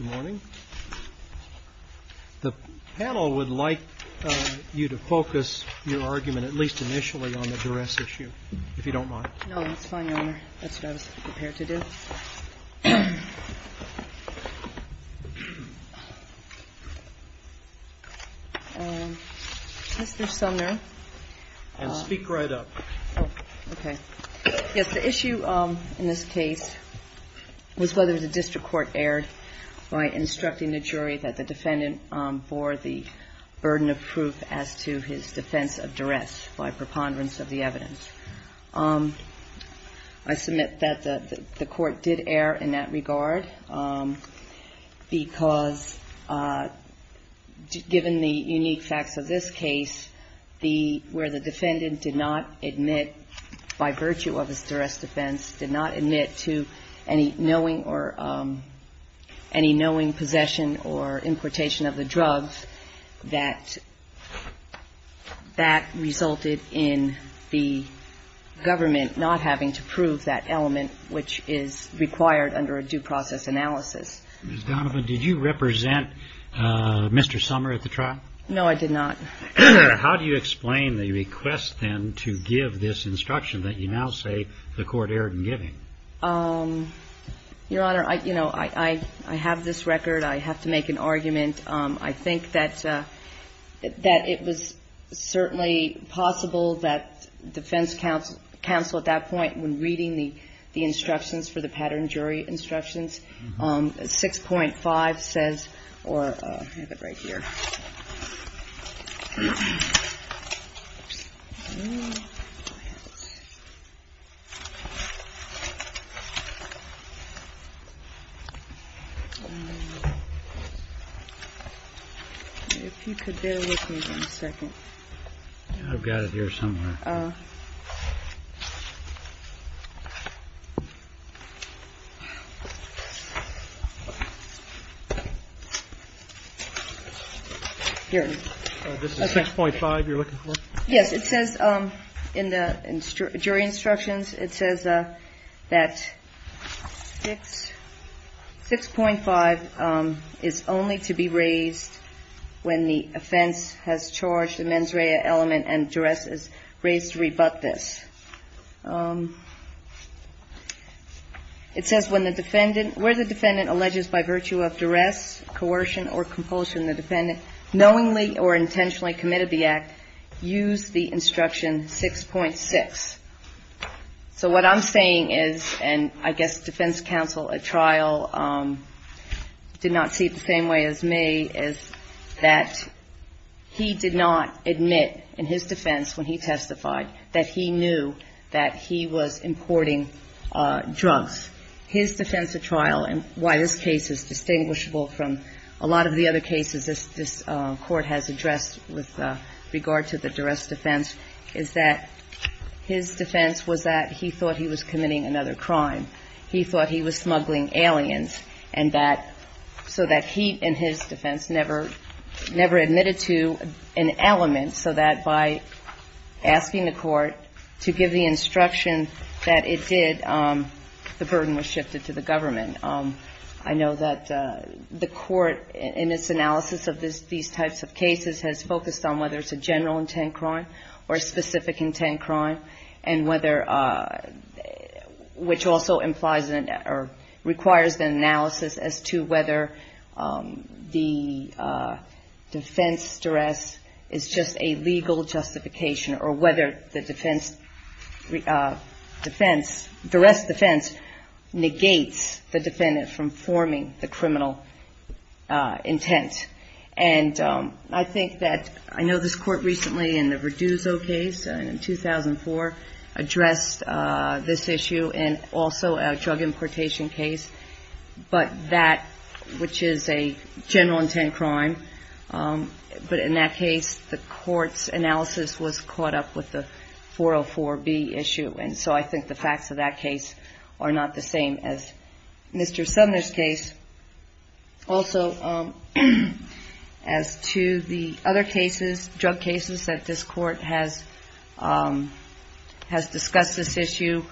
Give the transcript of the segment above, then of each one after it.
The panel would like you to focus your argument, at least initially, on the duress issue, if you don't mind. No, that's fine, Your Honor. That's what I was prepared to do. Mr. Sumner. Speak right up. Okay. Yes, the issue in this case was whether the district court erred by instructing the jury that the defendant bore the burden of proof as to his defense of duress by preponderance of the evidence. I submit that the court did err in that regard because, given the unique facts of this case, where the defendant did not admit, by virtue of his duress defense, did not admit to any knowing or any knowing possession or importation of the drugs, that that resulted in the government not having to prove that element, which is required under a due process analysis. Ms. Donovan, did you represent Mr. Sumner at the trial? No, I did not. How do you explain the request, then, to give this instruction that you now say the court erred in giving? Your Honor, you know, I have this record. I have to make an argument. I think that it was certainly possible that defense counsel at that point, when reading the instructions for the pattern jury instructions, 6.5 says or I have it right here. If you could bear with me one second. I've got it here somewhere. 6.5 you're looking for? Yes, it says in the jury instructions, it says that 6.5 is only to be raised when the offense has charged the mens rea element and duress is raised to rebut this. It says where the defendant alleges by virtue of duress, coercion or compulsion the defendant knowingly or intentionally committed the act, use the instruction 6.6. So what I'm saying is, and I guess defense counsel at trial did not see it the same way as me, is that he did not admit in his defense when he testified that he knew that he was importing drugs. His defense at trial and why this case is distinguishable from a lot of the other cases this Court has addressed with regard to the duress defense is that his defense was that he thought he was committing another crime. He thought he was smuggling aliens and that so that he in his defense never admitted to an element so that by asking the Court to give the instruction that it did, the burden was shifted to the government. And I know that the Court in its analysis of these types of cases has focused on whether it's a general intent crime or a specific intent crime and whether, which also implies or requires an analysis as to whether the defense duress is just a legal justification or whether the defense, the duress defense negates the defendant from forming the criminal intent. And I think that, I know this Court recently in the Verduzzo case in 2004 addressed this issue and also a drug importation case, but that which is a general intent crime, but in that case the Court's analysis was caught up with the 404B issue and so I think the facts of that case are not the same as Mr. Sumner's case. Also, as to the other cases, drug cases that this Court has discussed this issue,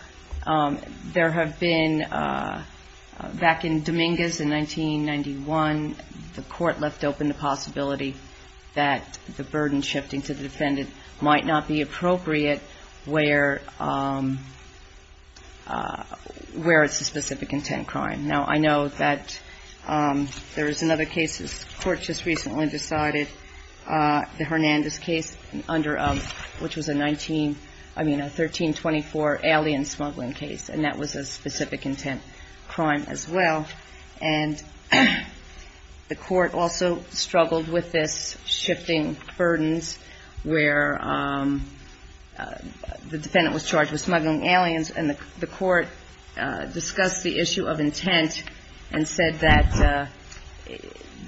there have been, back in Dominguez in 1991, the Court left open the possibility that the burden shifting to the defendant might not be appropriate where it's a specific intent crime. Now, I know that there is another case this Court just recently decided, the Hernandez case, which was a 19, I mean a 1324 alien smuggling case, and that was a specific intent crime as well. And the Court also struggled with this shifting burdens where the defendant was charged with smuggling aliens and the Court discussed the issue of intent and said that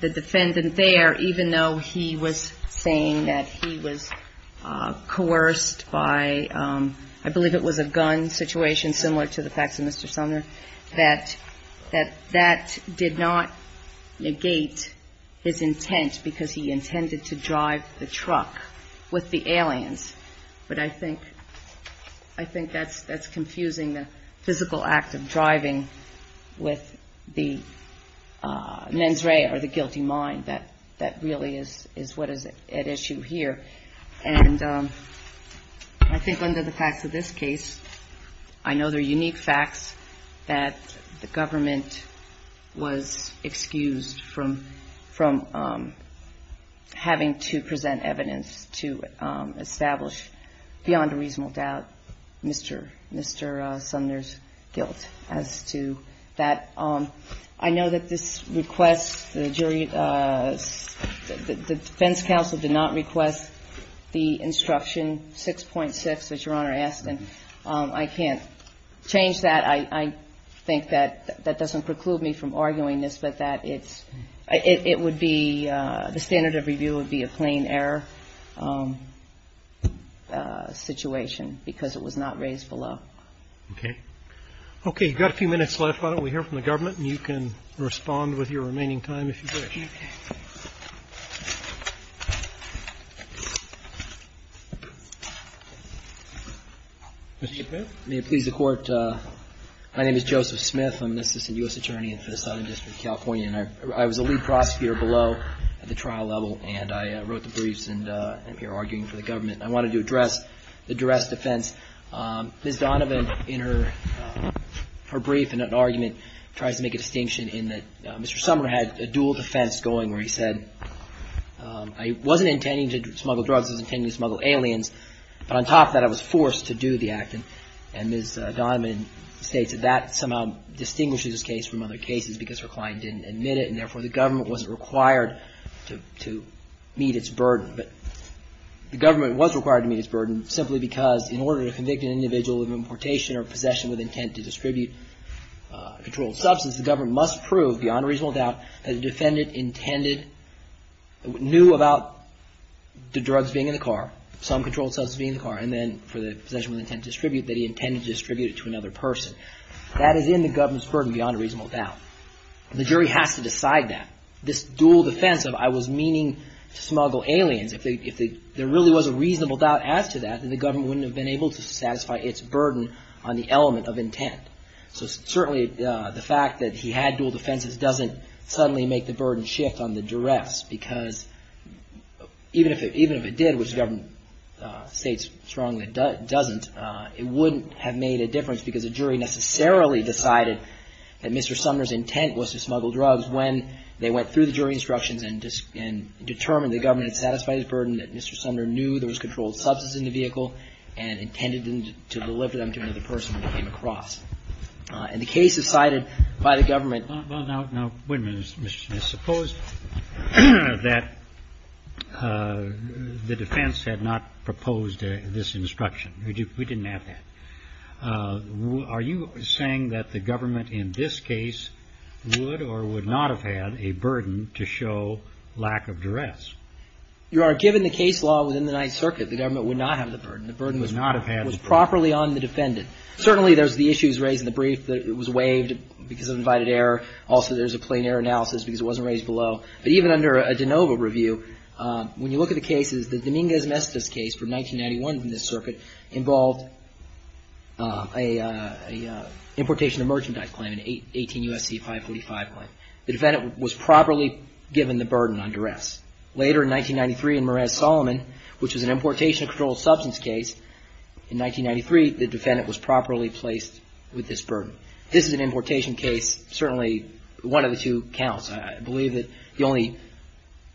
the defendant there, even though he was saying that he was coerced by, I believe it was a gun situation similar to the facts of Mr. Sumner, that that did not negate his intent because he intended to drive the truck with the aliens. But I think that's confusing the physical act of driving with the mens rea or the guilty mind. That really is what is at issue here. And I think under the facts of this case, I know there are unique facts that the government was excused from having to present evidence to establish beyond a reasonable doubt Mr. Sumner's guilt as to that. I know that this request, the defense counsel did not request the instruction 6.6 that Your Honor asked, and I can't change that. I think that that doesn't preclude me from arguing this, but that it would be, the standard of review would be a plain error. And I think that that would be a good situation because it was not raised below. Okay. Okay. You've got a few minutes left. Why don't we hear from the government and you can respond with your remaining time if you wish. May it please the Court. My name is Joseph Smith. I'm a criminal justice and U.S. attorney in the Southern District of California, and I was a lead prosecutor below at the trial level. And I wrote the briefs and I'm here arguing for the government. I wanted to address the duress defense. Ms. Donovan in her brief in an argument tries to make a distinction in that Mr. Sumner had a dual defense going where he said, I wasn't intending to smuggle drugs. I was intending to smuggle aliens. But on top of that, I was forced to do the act. And Ms. Donovan states that that somehow distinguishes this case from other cases because her client didn't admit it. And therefore, the government wasn't required to meet its burden. But the government was required to meet its burden simply because in order to convict an individual of importation or possession with intent to distribute controlled substance, the government must prove beyond reasonable doubt that the defendant intended, knew about the drugs being in the car. Some controlled substance being in the car. And then for the possession with intent to distribute, that he intended to distribute it to another person. That is in the government's burden beyond reasonable doubt. The jury has to decide that. This dual defense of I was meaning to smuggle aliens, if there really was a reasonable doubt as to that, then the government wouldn't have been able to satisfy its burden on the element of intent. So certainly, the fact that he had dual defenses doesn't suddenly make the burden shift on the duress because even if it did, which the government didn't, states strongly it doesn't, it wouldn't have made a difference because the jury necessarily decided that Mr. Sumner's intent was to smuggle drugs when they went through the jury instructions and determined the government had satisfied its burden, that Mr. Sumner knew there was controlled substance in the vehicle and intended to deliver them to another person when they came across. And the case is cited by the government. Well, now, wait a minute. I suppose that the defense had not proposed this instruction. We didn't have that. Are you saying that the government in this case would or would not have had a burden to show lack of duress? Your Honor, given the case law within the Ninth Circuit, the government would not have the burden. The burden was properly on the defendant. Certainly, there's the issues raised in the brief that it was waived because of invited error. Also, there's a plain error analysis because it wasn't raised below. But even under a de novo review, when you look at the cases, the Dominguez-Mestiz case from 1991 in this circuit involved an importation of merchandise claim, an 18 U.S.C. 545 claim. The defendant was properly given the burden on duress. Later in 1993 in Merez-Solomon, which was an importation of controlled substance case, in 1993, the defendant was properly placed with this burden. This is an importation case. Certainly, one of the two counts. I believe that the only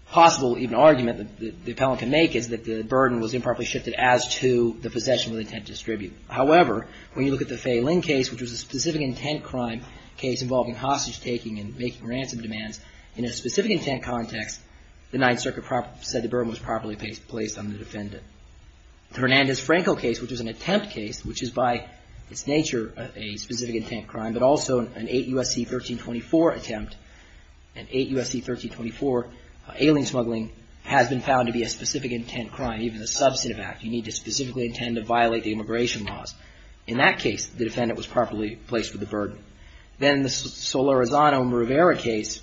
possible even argument that the appellant can make is that the burden was improperly shifted as to the possession of the intent to distribute. However, when you look at the Fay-Ling case, which was a specific intent crime case involving hostage-taking and making ransom demands, in a specific intent context, the Ninth Circuit said the burden was properly placed on the defendant. The Hernandez-Franco case, which was an attempt case, which is by its nature a specific intent crime, but also an 8 U.S.C. 1324 attempt, an 8 U.S.C. 1324 alien smuggling, has been found to be a specific intent crime, even a substantive act. You need to specifically intend to violate the immigration laws. In that case, the defendant was properly placed with the burden. Then the Solorzano-Mrivera case,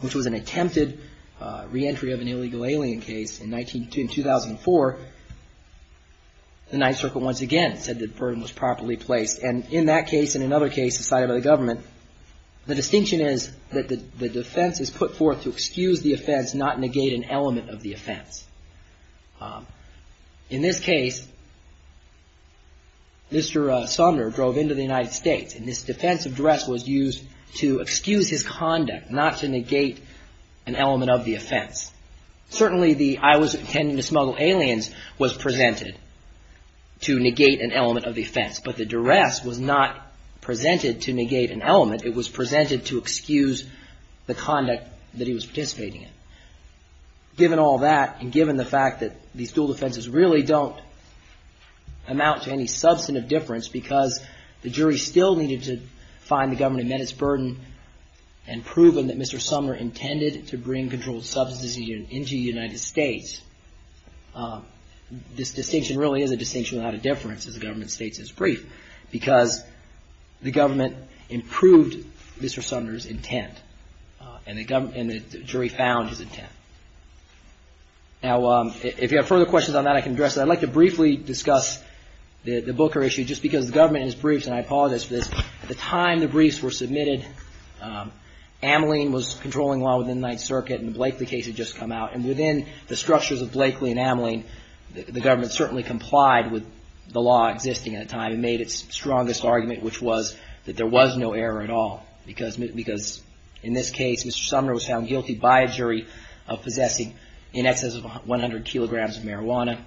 which was an attempted reentry of an illegal alien case in 2004, the defendant was properly placed with the burden. The Ninth Circuit once again said the burden was properly placed, and in that case and another case decided by the government, the distinction is that the defense is put forth to excuse the offense, not negate an element of the offense. In this case, Mr. Sumner drove into the United States, and this defense address was used to excuse his conduct, not to negate an element of the offense. Certainly, the I was intending to smuggle aliens was presented to negate an element of the offense, but the duress was not presented to negate an element. It was presented to excuse the conduct that he was participating in. Given all that, and given the fact that these dual defenses really don't amount to any substantive difference, because the jury still needed to find the government and met its burden, and proven that Mr. Sumner intended to bring controlled substances into the United States. This distinction really is a distinction without a difference, as the government states in its brief, because the government improved Mr. Sumner's intent, and the jury found his intent. Now, if you have further questions on that, I can address that. I'd like to briefly discuss the Booker issue, just because the government, in its briefs, and I apologize for this, at the time the briefs were submitted, Ameline was controlling law within the Ninth Circuit, and Blakely case had just come out, and Blakely case had just come out. And within the structures of Blakely and Ameline, the government certainly complied with the law existing at the time, and made its strongest argument, which was that there was no error at all. Because in this case, Mr. Sumner was found guilty by a jury of possessing in excess of 100 kilograms of marijuana.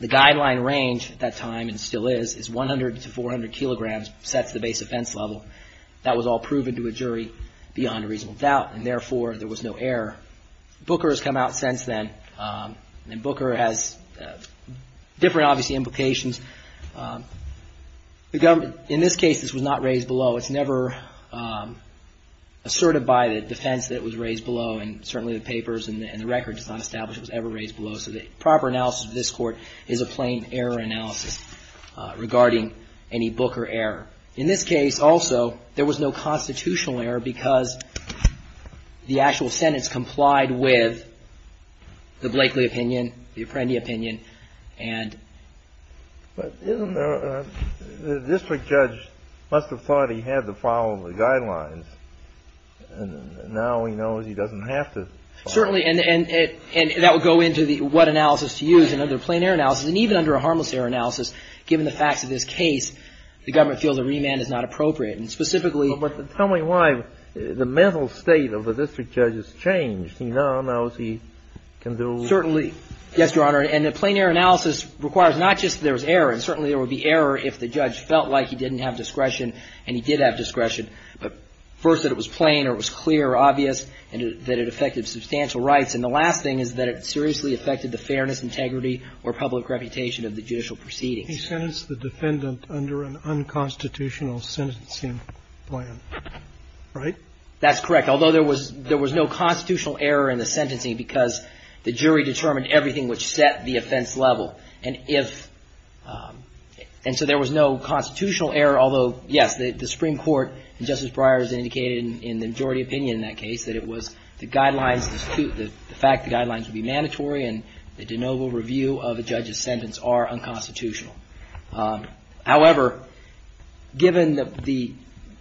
The guideline range at that time, and still is, is 100 to 400 kilograms sets the base offense level. That was all proven to a jury beyond a reasonable doubt, and therefore, there was no error. Booker has come out since then, and Booker has different, obviously, implications. In this case, this was not raised below. It's never asserted by the defense that it was raised below, and certainly the papers and the record does not establish it was ever raised below. So the proper analysis of this court is a plain error analysis regarding any Booker error. In this case, also, there was no constitutional error, because the actual sentence complied with the Blakely opinion, the Apprendi opinion, and... But isn't there a... the district judge must have thought he had to follow the guidelines, and now he knows he doesn't have to. Certainly, and that would go into the what analysis to use, another plain error analysis, and even under a harmless error analysis, given the facts of this case, the government feels a remand is not appropriate, and specifically... But tell me why the mental state of the district judge has changed. He now knows he can do... Certainly. Yes, Your Honor, and a plain error analysis requires not just there was error, and certainly there would be error if the judge felt like he didn't have discretion, and he did have discretion, but first that it was plain, or it was clear, or obvious, and that it affected substantial rights, and the last thing is that it seriously affected the fairness, integrity, or public reputation of the judicial proceedings. He sentenced the defendant under an unconstitutional sentencing plan, right? That's correct, although there was no constitutional error in the sentencing, because the jury determined everything which set the offense level, and if... and so there was no constitutional error, although, yes, the Supreme Court, and Justice Breyer has indicated in the majority opinion in that case, that it was the guidelines, the fact the guidelines would be mandatory, and the de novo review of a judge's sentence are unconstitutional. However, given the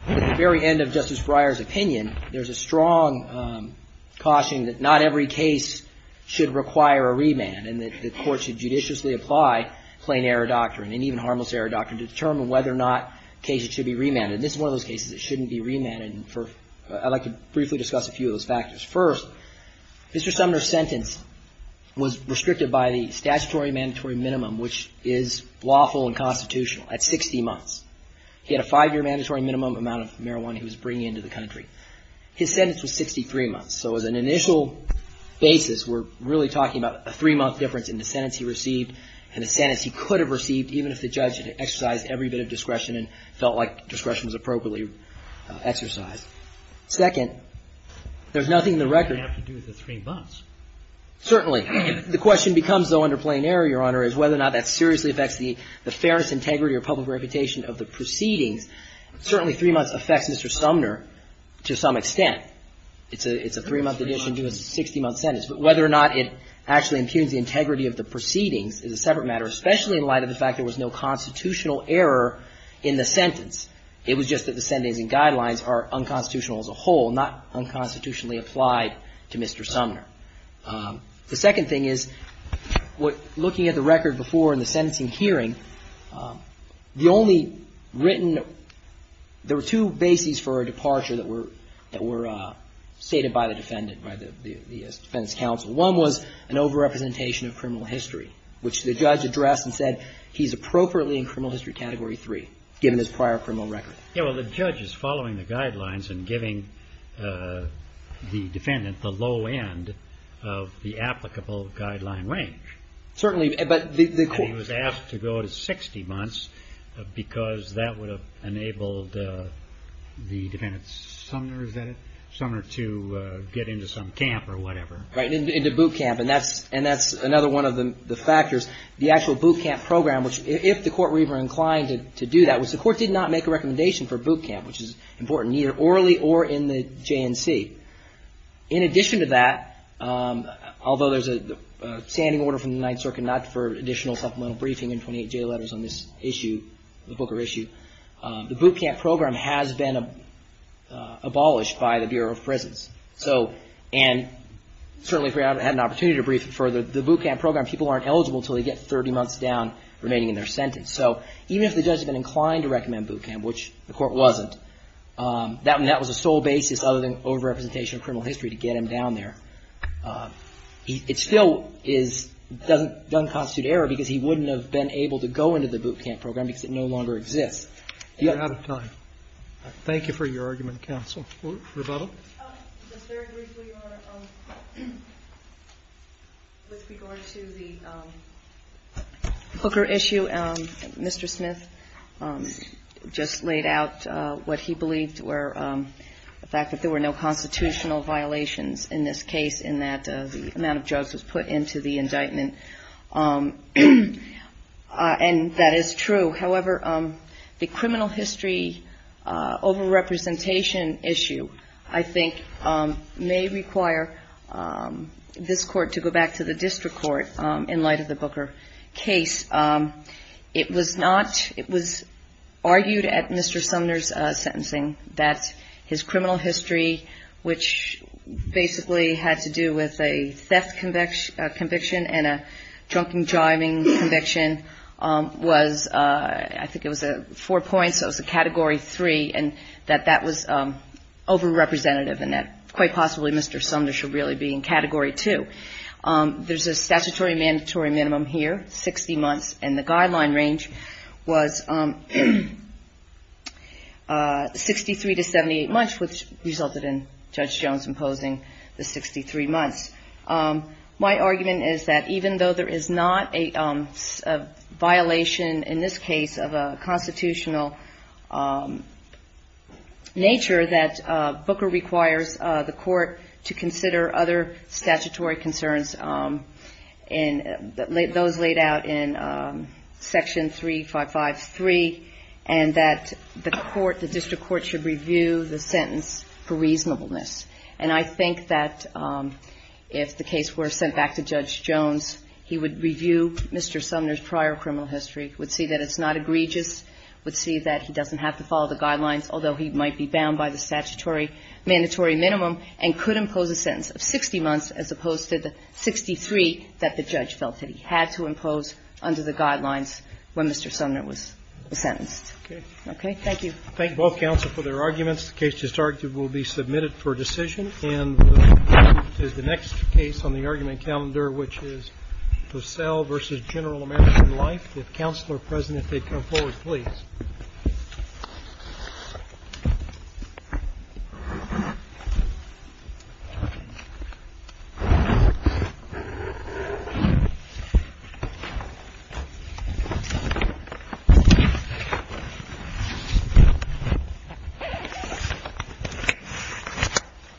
very end of Justice Breyer's opinion, there's a strong caution that not every case should require a remand, and that the court should judiciously apply plain error doctrine, and even harmless error doctrine, to determine whether or not cases should be remanded. This is one of those cases that shouldn't be remanded, and I'd like to briefly discuss a few of those factors. First, Mr. Sumner's sentence was restricted by the statutory mandatory minimum, which is lawful and constitutional, at 60 months. He had a five-year mandatory minimum amount of marijuana he was bringing into the country. His sentence was 63 months, so as an initial basis, we're really talking about a three-month difference in the sentence he received and the sentence he could have received, even if the judge had exercised every bit of discretion and felt like discretion was appropriately exercised. Second, there's nothing in the record to do with the three months. Certainly. The question becomes, though, under plain error, Your Honor, is whether or not that seriously affects the fairness, integrity, or public reputation of the proceedings. Certainly three months affects Mr. Sumner to some extent. It's a three-month addition to a 60-month sentence. But whether or not it actually impugns the integrity of the proceedings is a separate matter, especially in light of the fact there was no constitutional error in the sentence. It was just that the sentencing guidelines are unconstitutional as a whole, not unconstitutionally applied to Mr. Sumner. The second thing is, looking at the record before in the sentencing hearing, the only written – there were two bases for a departure that were stated by the defendant, by the defendant's counsel. One was an overrepresentation of criminal history, which the judge addressed and said he's appropriately in criminal history category three, given his prior criminal record. Yeah, well, the judge is following the guidelines and giving the defendant the low end of the applicable guideline range. Certainly, but the court – And he was asked to go to 60 months because that would have enabled the defendant's – Sumner, is that it? – Sumner to get into some camp or whatever. Right. Into boot camp. And that's another one of the factors. The actual boot camp program, which if the court were even inclined to do that, was the court did not make a recommendation for boot camp, which is important, either orally or in the JNC. In addition to that, although there's a standing order from the Ninth Circuit not for additional supplemental briefing in 28J letters on this issue, the Booker issue, the boot camp program has been abolished by the Bureau of Prisons. So – and certainly if we had an opportunity to brief it further, the boot camp program, people aren't eligible until they get 30 months down remaining in their sentence. So even if the judge had been inclined to recommend boot camp, which the court wasn't, that was the sole basis other than overrepresentation of criminal history to get him down there. It still is – doesn't constitute error because he wouldn't have been able to go into the boot camp program because it no longer exists. You're out of time. Thank you for your argument, counsel. Rebuttal? Just very briefly, Your Honor, with regard to the Booker issue, Mr. Smith just laid out what he believed were – the fact that there were no constitutional violations in this case in that the amount of drugs was put into the indictment. And that is true. However, the criminal history overrepresentation issue, I think, may require this court to go back to the district court in light of the Booker case. It was not – it was argued at Mr. Sumner's sentencing that his criminal history, which basically had to do with a theft conviction and a drunken driving conviction, was – I think it was four points, so it was a Category 3, and that that was overrepresentative and that quite possibly Mr. Sumner should really be in Category 2. There's a statutory mandatory minimum here, 60 months, and the guideline range was 63 to 78 months, which resulted in Judge Jones imposing the 63 months. My argument is that even though there is not a violation in this case of a constitutional nature, that Booker requires the court to consider other statutory concerns, those laid out in Section 3553, and that the court, the district court, should review the sentence for reasonableness. And I think that if the case were sent back to Judge Jones, he would review Mr. Sumner's prior criminal history, would see that it's not egregious, would see that he doesn't have to follow the guidelines, although he might be bound by the statutory mandatory minimum, and could impose a sentence of 60 months as opposed to the 63 that the judge felt that he had to impose under the guidelines when Mr. Sumner was sentenced. Thank you. I thank both counsel for their arguments. The case is targeted to be submitted for decision. And the next case on the argument calendar, which is Purcell v. General American Life. If Counselor President could come forward, please. Thank you.